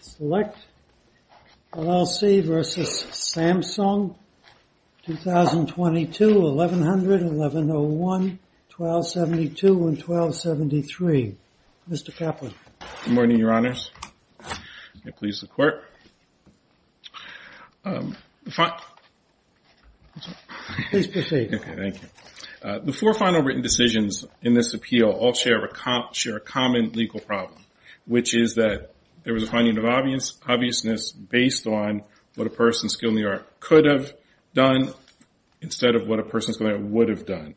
Select, LLC v. Samsung, 2022, 1100, 1101, 1272, and 1273. Mr. Kaplan. Good morning, Your Honors. May it please the Court. Please proceed. Thank you. The four final written decisions in this appeal all share a common legal problem, which is that there was a finding of obviousness based on what a person's skill in the art could have done instead of what a person's skill in the art would have done.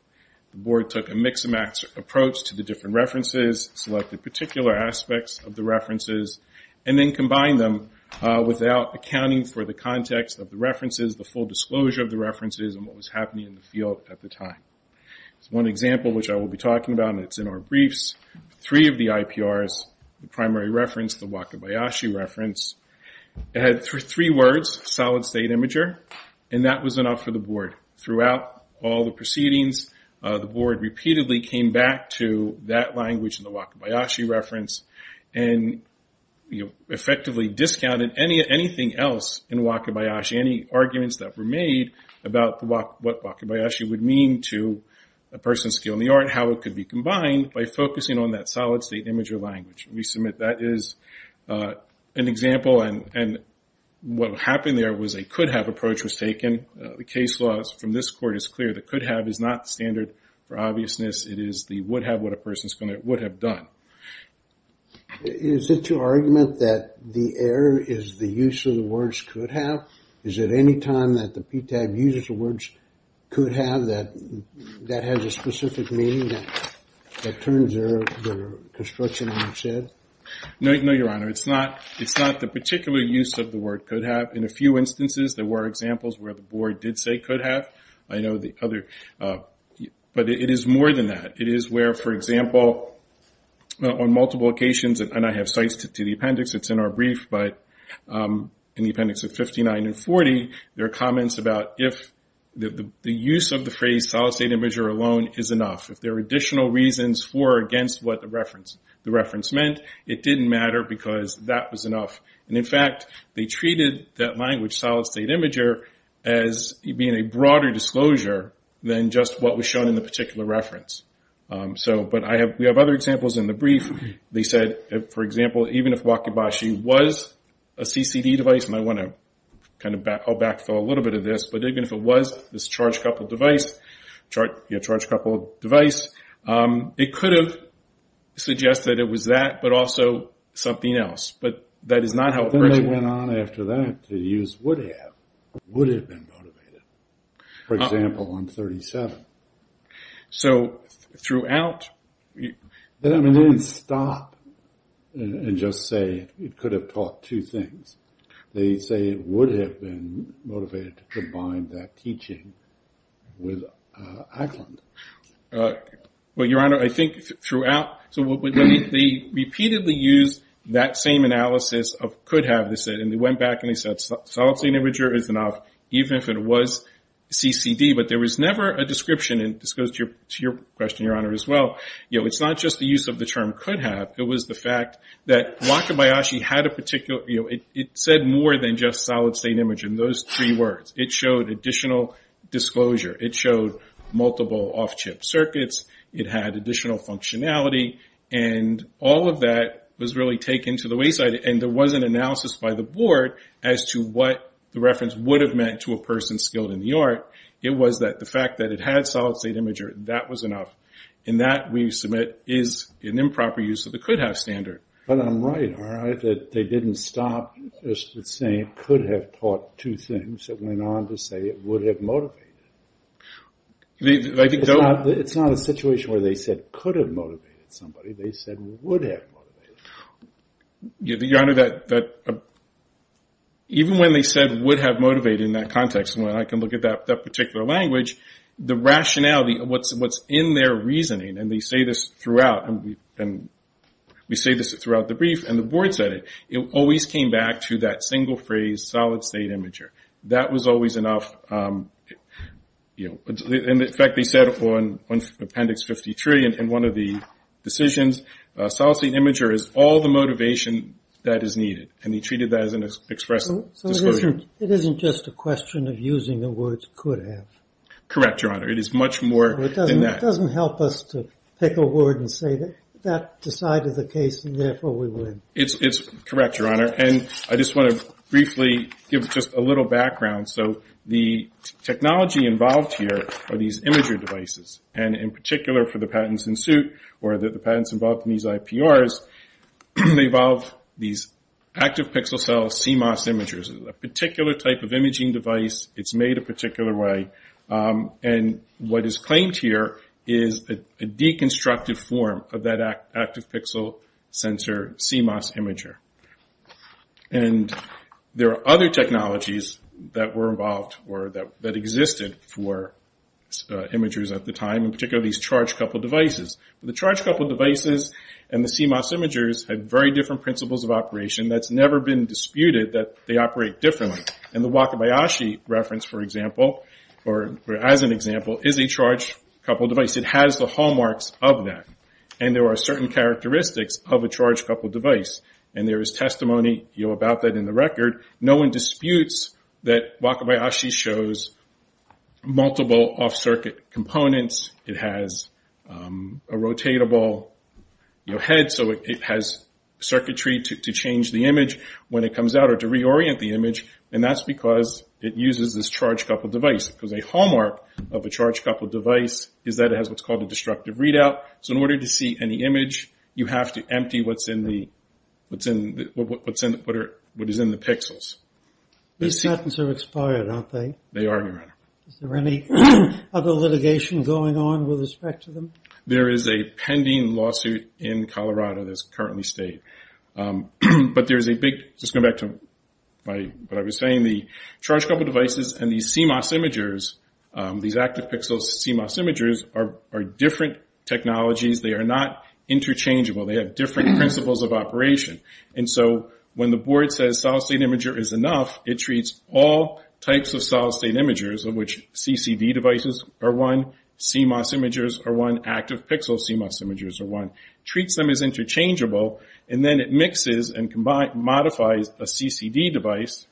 The Board took a mix-and-match approach to the different references, selected particular aspects of the references, and then combined them without accounting for the context of the references, the full disclosure of the references, and what was happening in the field at the time. One example, which I will be talking about, and it's in our briefs, three of the IPRs, the primary reference, the Wakabayashi reference, had three words, solid state imager, and that was enough for the Board. Throughout all the proceedings, the Board repeatedly came back to that language, the Wakabayashi reference, and effectively discounted anything else in Wakabayashi, any arguments that were made about what Wakabayashi would mean to a person's skill in the art, how it could be combined, by focusing on that solid state imager language. We submit that is an example, and what happened there was a could-have approach was taken. The case law from this court is clear. The could-have is not standard for obviousness. It is the would-have, what a person would have done. Is it your argument that the error is the use of the words could-have? Is it any time that the PTAB uses the words could-have that that has a specific meaning that turns their construction on its head? No, Your Honor. It's not the particular use of the word could-have. In a few instances, there were examples where the Board did say could-have. I know the other, but it is more than that. It is where, for example, on multiple occasions, and I have sites to the appendix. It's in our brief, but in the appendix of 59 and 40, there are comments about if the use of the phrase solid state imager alone is enough. If there are additional reasons for or against what the reference meant, it didn't matter because that was enough. In fact, they treated that language, solid state imager, as being a broader disclosure than just what was shown in the particular reference. But we have other examples in the brief. They said, for example, even if Wakabashi was a CCD device, and I want to kind of backfill a little bit of this, but even if it was this charge-coupled device, it could have suggested it was that but also something else. Then they went on after that to use would-have. Would have been motivated. For example, on 37. So throughout... They didn't stop and just say it could have taught two things. They say it would have been motivated to combine that teaching with Ackland. Your Honor, I think throughout... They repeatedly used that same analysis of could-have. They went back and they said solid state imager is enough even if it was CCD. But there was never a description, and this goes to your question, Your Honor, as well. It's not just the use of the term could-have. It was the fact that Wakabayashi had a particular... It said more than just solid state imager in those three words. It showed additional disclosure. It showed multiple off-chip circuits. It had additional functionality. And all of that was really taken to the wayside. And there was an analysis by the board as to what the reference would have meant to a person skilled in the art. It was that the fact that it had solid state imager, that was enough. And that, we submit, is an improper use of the could-have standard. But I'm right, all right, that they didn't stop at saying could-have taught two things. It went on to say it would-have motivated. It's not a situation where they said could-have motivated somebody. They said would-have motivated. Your Honor, even when they said would-have motivated in that context, and I can look at that particular language, the rationality of what's in their reasoning, and they say this throughout, and we say this throughout the brief, and the board said it, it always came back to that single phrase, solid state imager. That was always enough. And, in fact, they said on Appendix 50-3 in one of the decisions, solid state imager is all the motivation that is needed. And they treated that as an express disclosure. So it isn't just a question of using the words could-have? Correct, Your Honor. It is much more than that. It doesn't help us to pick a word and say that decided the case and, therefore, we win. It's correct, Your Honor. And I just want to briefly give just a little background. So the technology involved here are these imager devices, and in particular for the patents in suit or the patents involved in these IPRs, they involve these active pixel cell CMOS imagers, a particular type of imaging device. It's made a particular way. And what is claimed here is a deconstructive form of that active pixel sensor CMOS imager. And there are other technologies that were involved or that existed for imagers at the time, in particular these charge-coupled devices. The charge-coupled devices and the CMOS imagers have very different principles of operation. That's never been disputed that they operate differently. And the Wakabayashi reference, for example, or as an example, is a charge-coupled device. It has the hallmarks of that. And there are certain characteristics of a charge-coupled device, and there is testimony about that in the record. No one disputes that Wakabayashi shows multiple off-circuit components. It has a rotatable head, so it has circuitry to change the image when it comes out or to reorient the image, and that's because it uses this charge-coupled device. Because a hallmark of a charge-coupled device is that it has what's called a destructive readout. So in order to see any image, you have to empty what is in the pixels. These patents are expired, aren't they? They are, Your Honor. Is there any other litigation going on with respect to them? There is a pending lawsuit in Colorado that's currently stayed. But there's a big – just going back to what I was saying, the charge-coupled devices and these CMOS imagers, these active pixels CMOS imagers, are different technologies. They are not interchangeable. They have different principles of operation. And so when the board says solid-state imager is enough, it treats all types of solid-state imagers, of which CCD devices are one, CMOS imagers are one, active pixel CMOS imagers are one, treats them as interchangeable, and then it mixes and modifies a CCD device,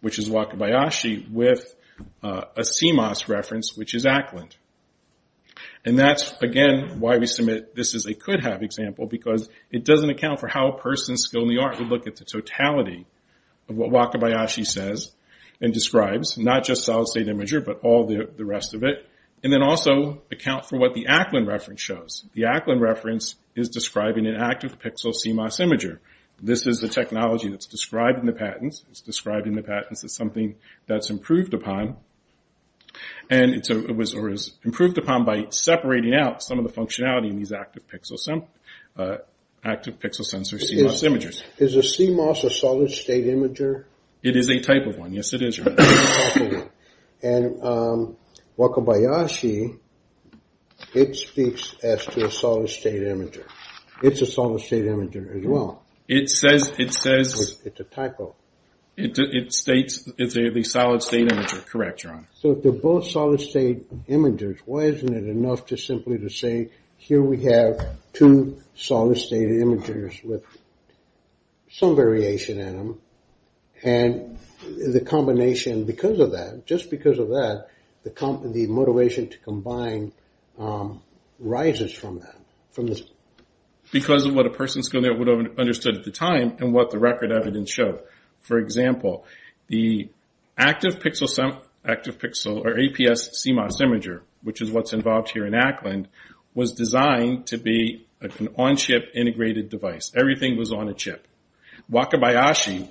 which is Wakabayashi, with a CMOS reference, which is Ackland. And that's, again, why we submit this as a could-have example, because it doesn't account for how a person's skill in the art would look at the totality of what Wakabayashi says and describes, not just solid-state imager but all the rest of it, and then also account for what the Ackland reference shows. The Ackland reference is describing an active pixel CMOS imager. This is the technology that's described in the patents. It's described in the patents as something that's improved upon, or is improved upon by separating out some of the functionality in these active pixel sensor CMOS imagers. Is a CMOS a solid-state imager? It is a type of one. Yes, it is. And Wakabayashi, it speaks as to a solid-state imager. It's a solid-state imager as well. It says... It's a typo. It states it's a solid-state imager. Correct, Your Honor. So if they're both solid-state imagers, why isn't it enough just simply to say, here we have two solid-state imagers with some variation in them, and the combination because of that, just because of that, the motivation to combine rises from that. Because of what a person's going to have understood at the time and what the record evidence showed. For example, the active pixel or APS CMOS imager, which is what's involved here in Ackland, was designed to be an on-chip integrated device. Everything was on a chip. Wakabayashi,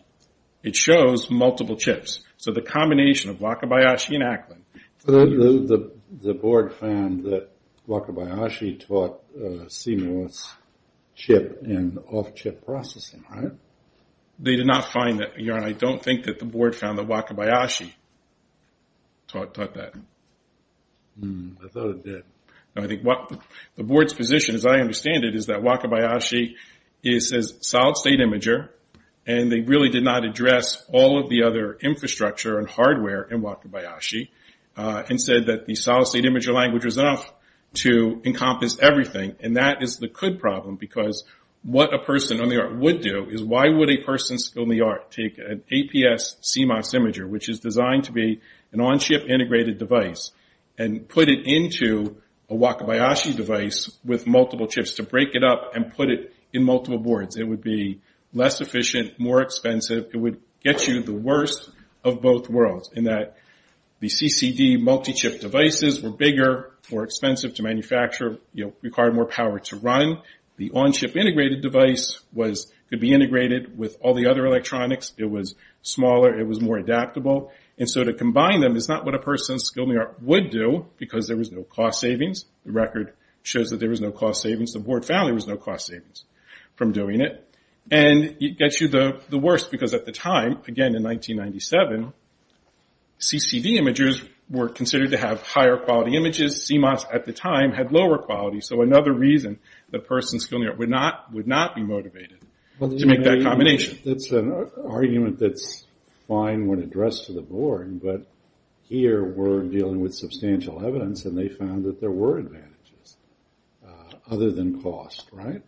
it shows multiple chips. So the combination of Wakabayashi and Ackland. The board found that Wakabayashi taught CMOS chip and off-chip processing, right? They did not find that, Your Honor. I don't think that the board found that Wakabayashi taught that. I thought it did. The board's position, as I understand it, is that Wakabayashi is a solid-state imager, and they really did not address all of the other infrastructure and hardware in Wakabayashi, and said that the solid-state imager language was enough to encompass everything, and that is the could problem, because what a person on the art would do is, why would a person on the art take an APS CMOS imager, which is designed to be an on-chip integrated device, and put it into a Wakabayashi device with multiple chips to break it up and put it in multiple boards? It would be less efficient, more expensive. It would get you the worst of both worlds, in that the CCD multi-chip devices were bigger, more expensive to manufacture, required more power to run. The on-chip integrated device could be integrated with all the other electronics. It was smaller. It was more adaptable. And so to combine them is not what a person on the art would do, because there was no cost savings. The record shows that there was no cost savings. The board found there was no cost savings from doing it. And it gets you the worst, because at the time, again in 1997, CCD imagers were considered to have higher quality images. CMOS at the time had lower quality. So another reason that a person on the art would not be motivated to make that combination. That's an argument that's fine when addressed to the board, but here we're dealing with substantial evidence, and they found that there were advantages other than cost, right?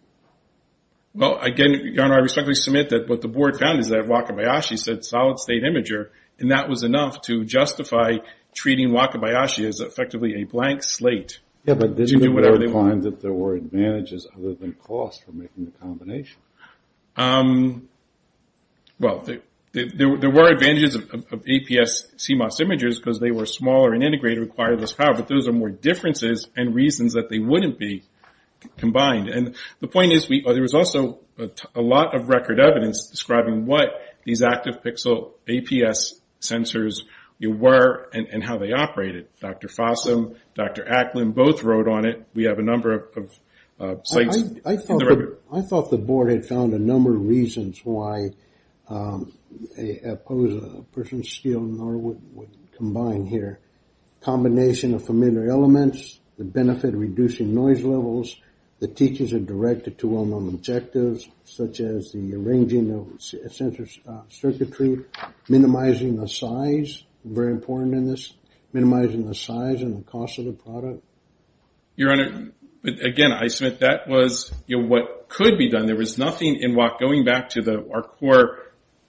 Well, again, your Honor, I respectfully submit that what the board found is that Wakabayashi said solid-state imager, and that was enough to justify treating Wakabayashi as effectively a blank slate. Yeah, but this board finds that there were advantages other than cost for making the combination. Well, there were advantages of APS CMOS imagers, because they were smaller and integrated, and they required less power, but those are more differences and reasons that they wouldn't be combined. And the point is there was also a lot of record evidence describing what these active pixel APS sensors were and how they operated. Dr. Fossum, Dr. Acklin both wrote on it. We have a number of sites in the record. I thought the board had found a number of reasons why a person's skill nor would combine here. Combination of familiar elements, the benefit of reducing noise levels, the teachers are directed to well-known objectives, such as the arranging of sensor circuitry, minimizing the size, very important in this, minimizing the size and the cost of the product. Your Honor, again, I submit that was what could be done. There was nothing in Wakabayashi, going back to our core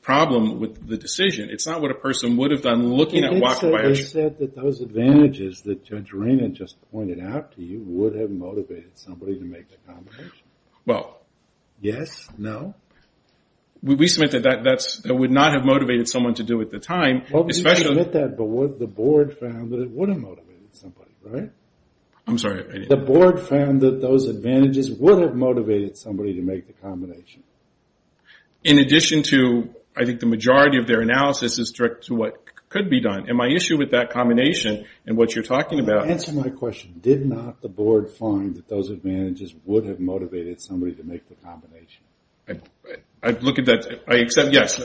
problem with the decision, it's not what a person would have done looking at Wakabayashi. You said that those advantages that Judge Raymond just pointed out to you would have motivated somebody to make the combination. Well. Yes, no? We submit that that would not have motivated someone to do it at the time. But the board found that it would have motivated somebody, right? I'm sorry. The board found that those advantages would have motivated somebody to make the combination. In addition to, I think the majority of their analysis is directed to what could be done. And my issue with that combination and what you're talking about. Answer my question. Did not the board find that those advantages would have motivated somebody to make the combination? I'd look at that. I accept, yes.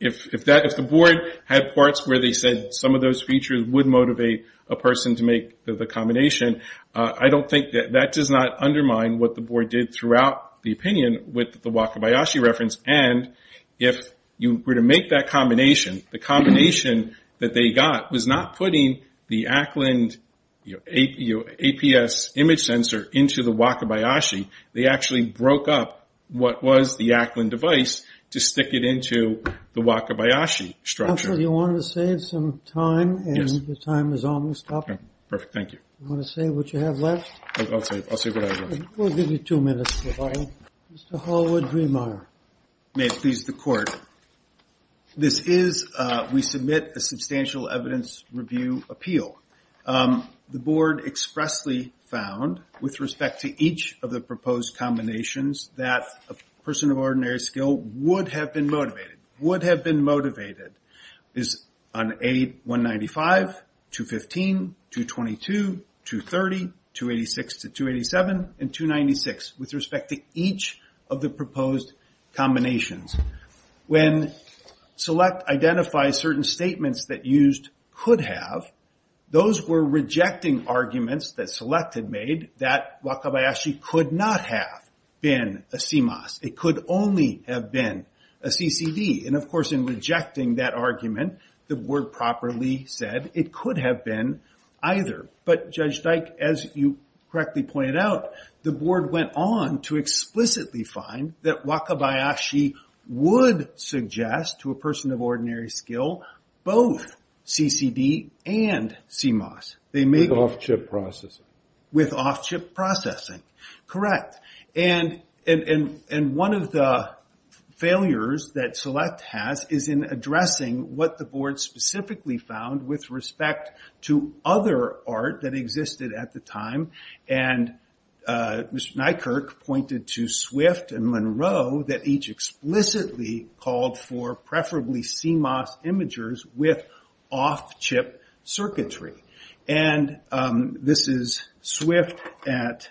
If the board had parts where they said some of those features would motivate a person to make the combination, I don't think that. That does not undermine what the board did throughout the opinion with the Wakabayashi reference. And if you were to make that combination, the combination that they got was not putting the Ackland APS image sensor into the Wakabayashi. They actually broke up what was the Ackland device to stick it into the Wakabayashi structure. Do you want to save some time? Yes. The time is almost up. Perfect. Thank you. Do you want to say what you have left? I'll say what I have left. We'll give you two minutes. Mr. Holwood Greenmeier. May it please the court. This is, we submit a substantial evidence review appeal. The board expressly found, with respect to each of the proposed combinations, that a person of ordinary skill would have been motivated. Would have been motivated is on A195, 215, 222, 230, 286 to 287, and 296. With respect to each of the proposed combinations. When SELECT identifies certain statements that used could have, those were rejecting arguments that SELECT had made that Wakabayashi could not have been a CMOS. It could only have been a CCD. And, of course, in rejecting that argument, the board properly said it could have been either. But, Judge Dyke, as you correctly pointed out, the board went on to explicitly find that Wakabayashi would suggest, to a person of ordinary skill, both CCD and CMOS. With off-chip processing. With off-chip processing. Correct. And one of the failures that SELECT has is in addressing what the board specifically found, with respect to other art that existed at the time. And Mr. Nykerk pointed to SWIFT and Monroe that each explicitly called for, preferably CMOS imagers with off-chip circuitry. And this is SWIFT at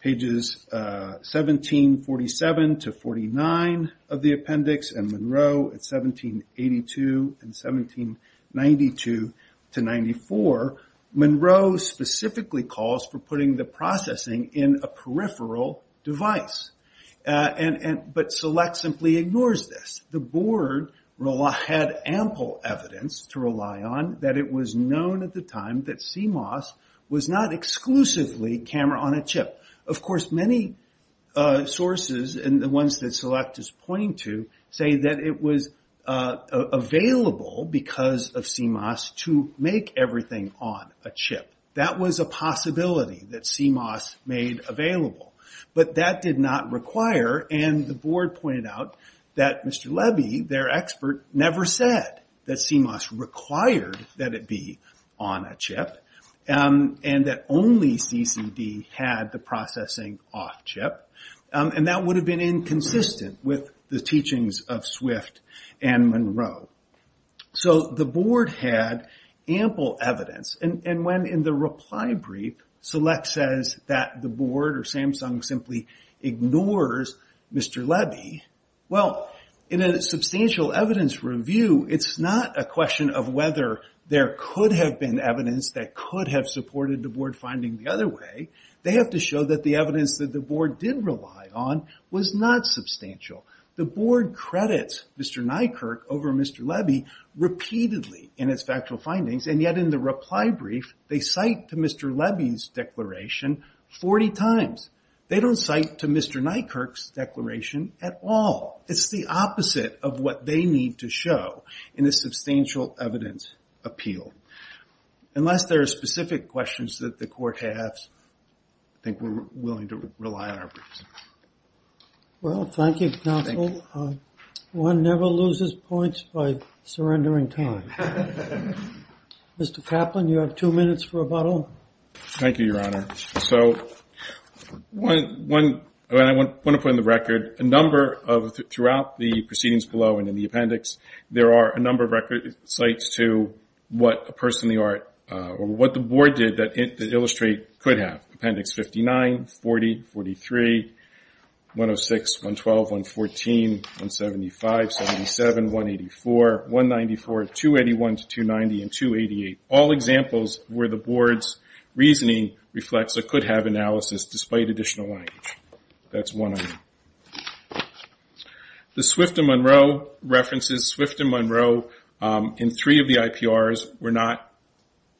pages 1747 to 49 of the appendix. And Monroe at 1782 and 1792 to 94. Monroe specifically calls for putting the processing in a peripheral device. But SELECT simply ignores this. The board had ample evidence to rely on that it was known at the time that CMOS was not exclusively camera-on-a-chip. Of course, many sources, and the ones that SELECT is pointing to, say that it was available, because of CMOS, to make everything on a chip. That was a possibility that CMOS made available. But that did not require, and the board pointed out that Mr. Levy, their expert, never said that CMOS required that it be on a chip. And that only CCD had the processing off-chip. And that would have been inconsistent with the teachings of SWIFT and Monroe. So the board had ample evidence. And when, in the reply brief, SELECT says that the board or Samsung simply ignores Mr. Levy, well, in a substantial evidence review, it's not a question of whether there could have been evidence that could have supported the board finding the other way. They have to show that the evidence that the board did rely on was not substantial. The board credits Mr. Nykerk over Mr. Levy repeatedly in its factual findings. And yet in the reply brief, they cite to Mr. Levy's declaration 40 times. They don't cite to Mr. Nykerk's declaration at all. It's the opposite of what they need to show in a substantial evidence appeal. Unless there are specific questions that the court has, I think we're willing to rely on our briefs. Well, thank you, counsel. One never loses points by surrendering time. Mr. Kaplan, you have two minutes for rebuttal. Thank you, Your Honor. So I want to put on the record a number of, throughout the proceedings below and in the appendix, there are a number of record cites to what a person in the art, or what the board did that Illustrate could have. Appendix 59, 40, 43, 106, 112, 114, 175, 177, 184, 194, 281 to 290, and 288. All examples where the board's reasoning reflects a could-have analysis despite additional language. That's one of them. The Swift and Monroe references, Swift and Monroe in three of the IPRs were not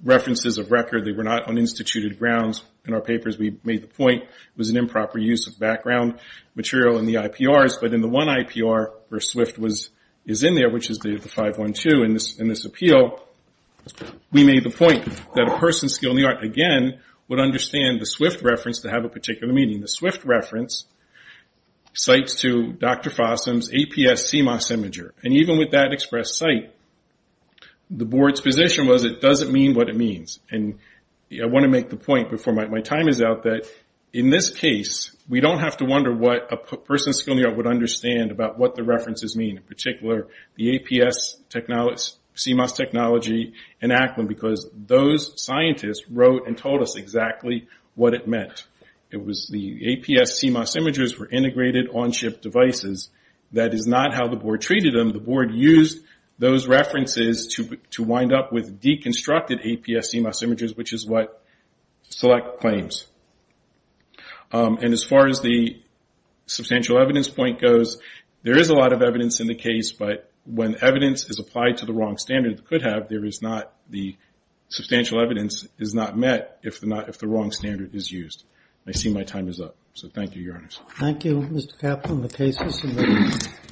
references of record. They were not on instituted grounds. In our papers we made the point it was an improper use of background material in the IPRs, but in the one IPR where Swift is in there, which is the 512 in this appeal, we made the point that a person skilled in the art, again, would understand the Swift reference to have a particular meaning. The Swift reference cites to Dr. Fossum's APS CMOS imager. And even with that expressed cite, the board's position was it doesn't mean what it means. And I want to make the point before my time is out that in this case, we don't have to wonder what a person skilled in the art would understand about what the references mean, in particular the APS CMOS technology and ACLIN, because those scientists wrote and told us exactly what it meant. It was the APS CMOS imagers were integrated on-chip devices. That is not how the board treated them. The board used those references to wind up with deconstructed APS CMOS imagers, which is what Select claims. And as far as the substantial evidence point goes, there is a lot of evidence in the case, but when evidence is applied to the wrong standard it could have, the substantial evidence is not met if the wrong standard is used. I see my time is up. So thank you, Your Honors. Thank you, Mr. Kaplan. The case is submitted.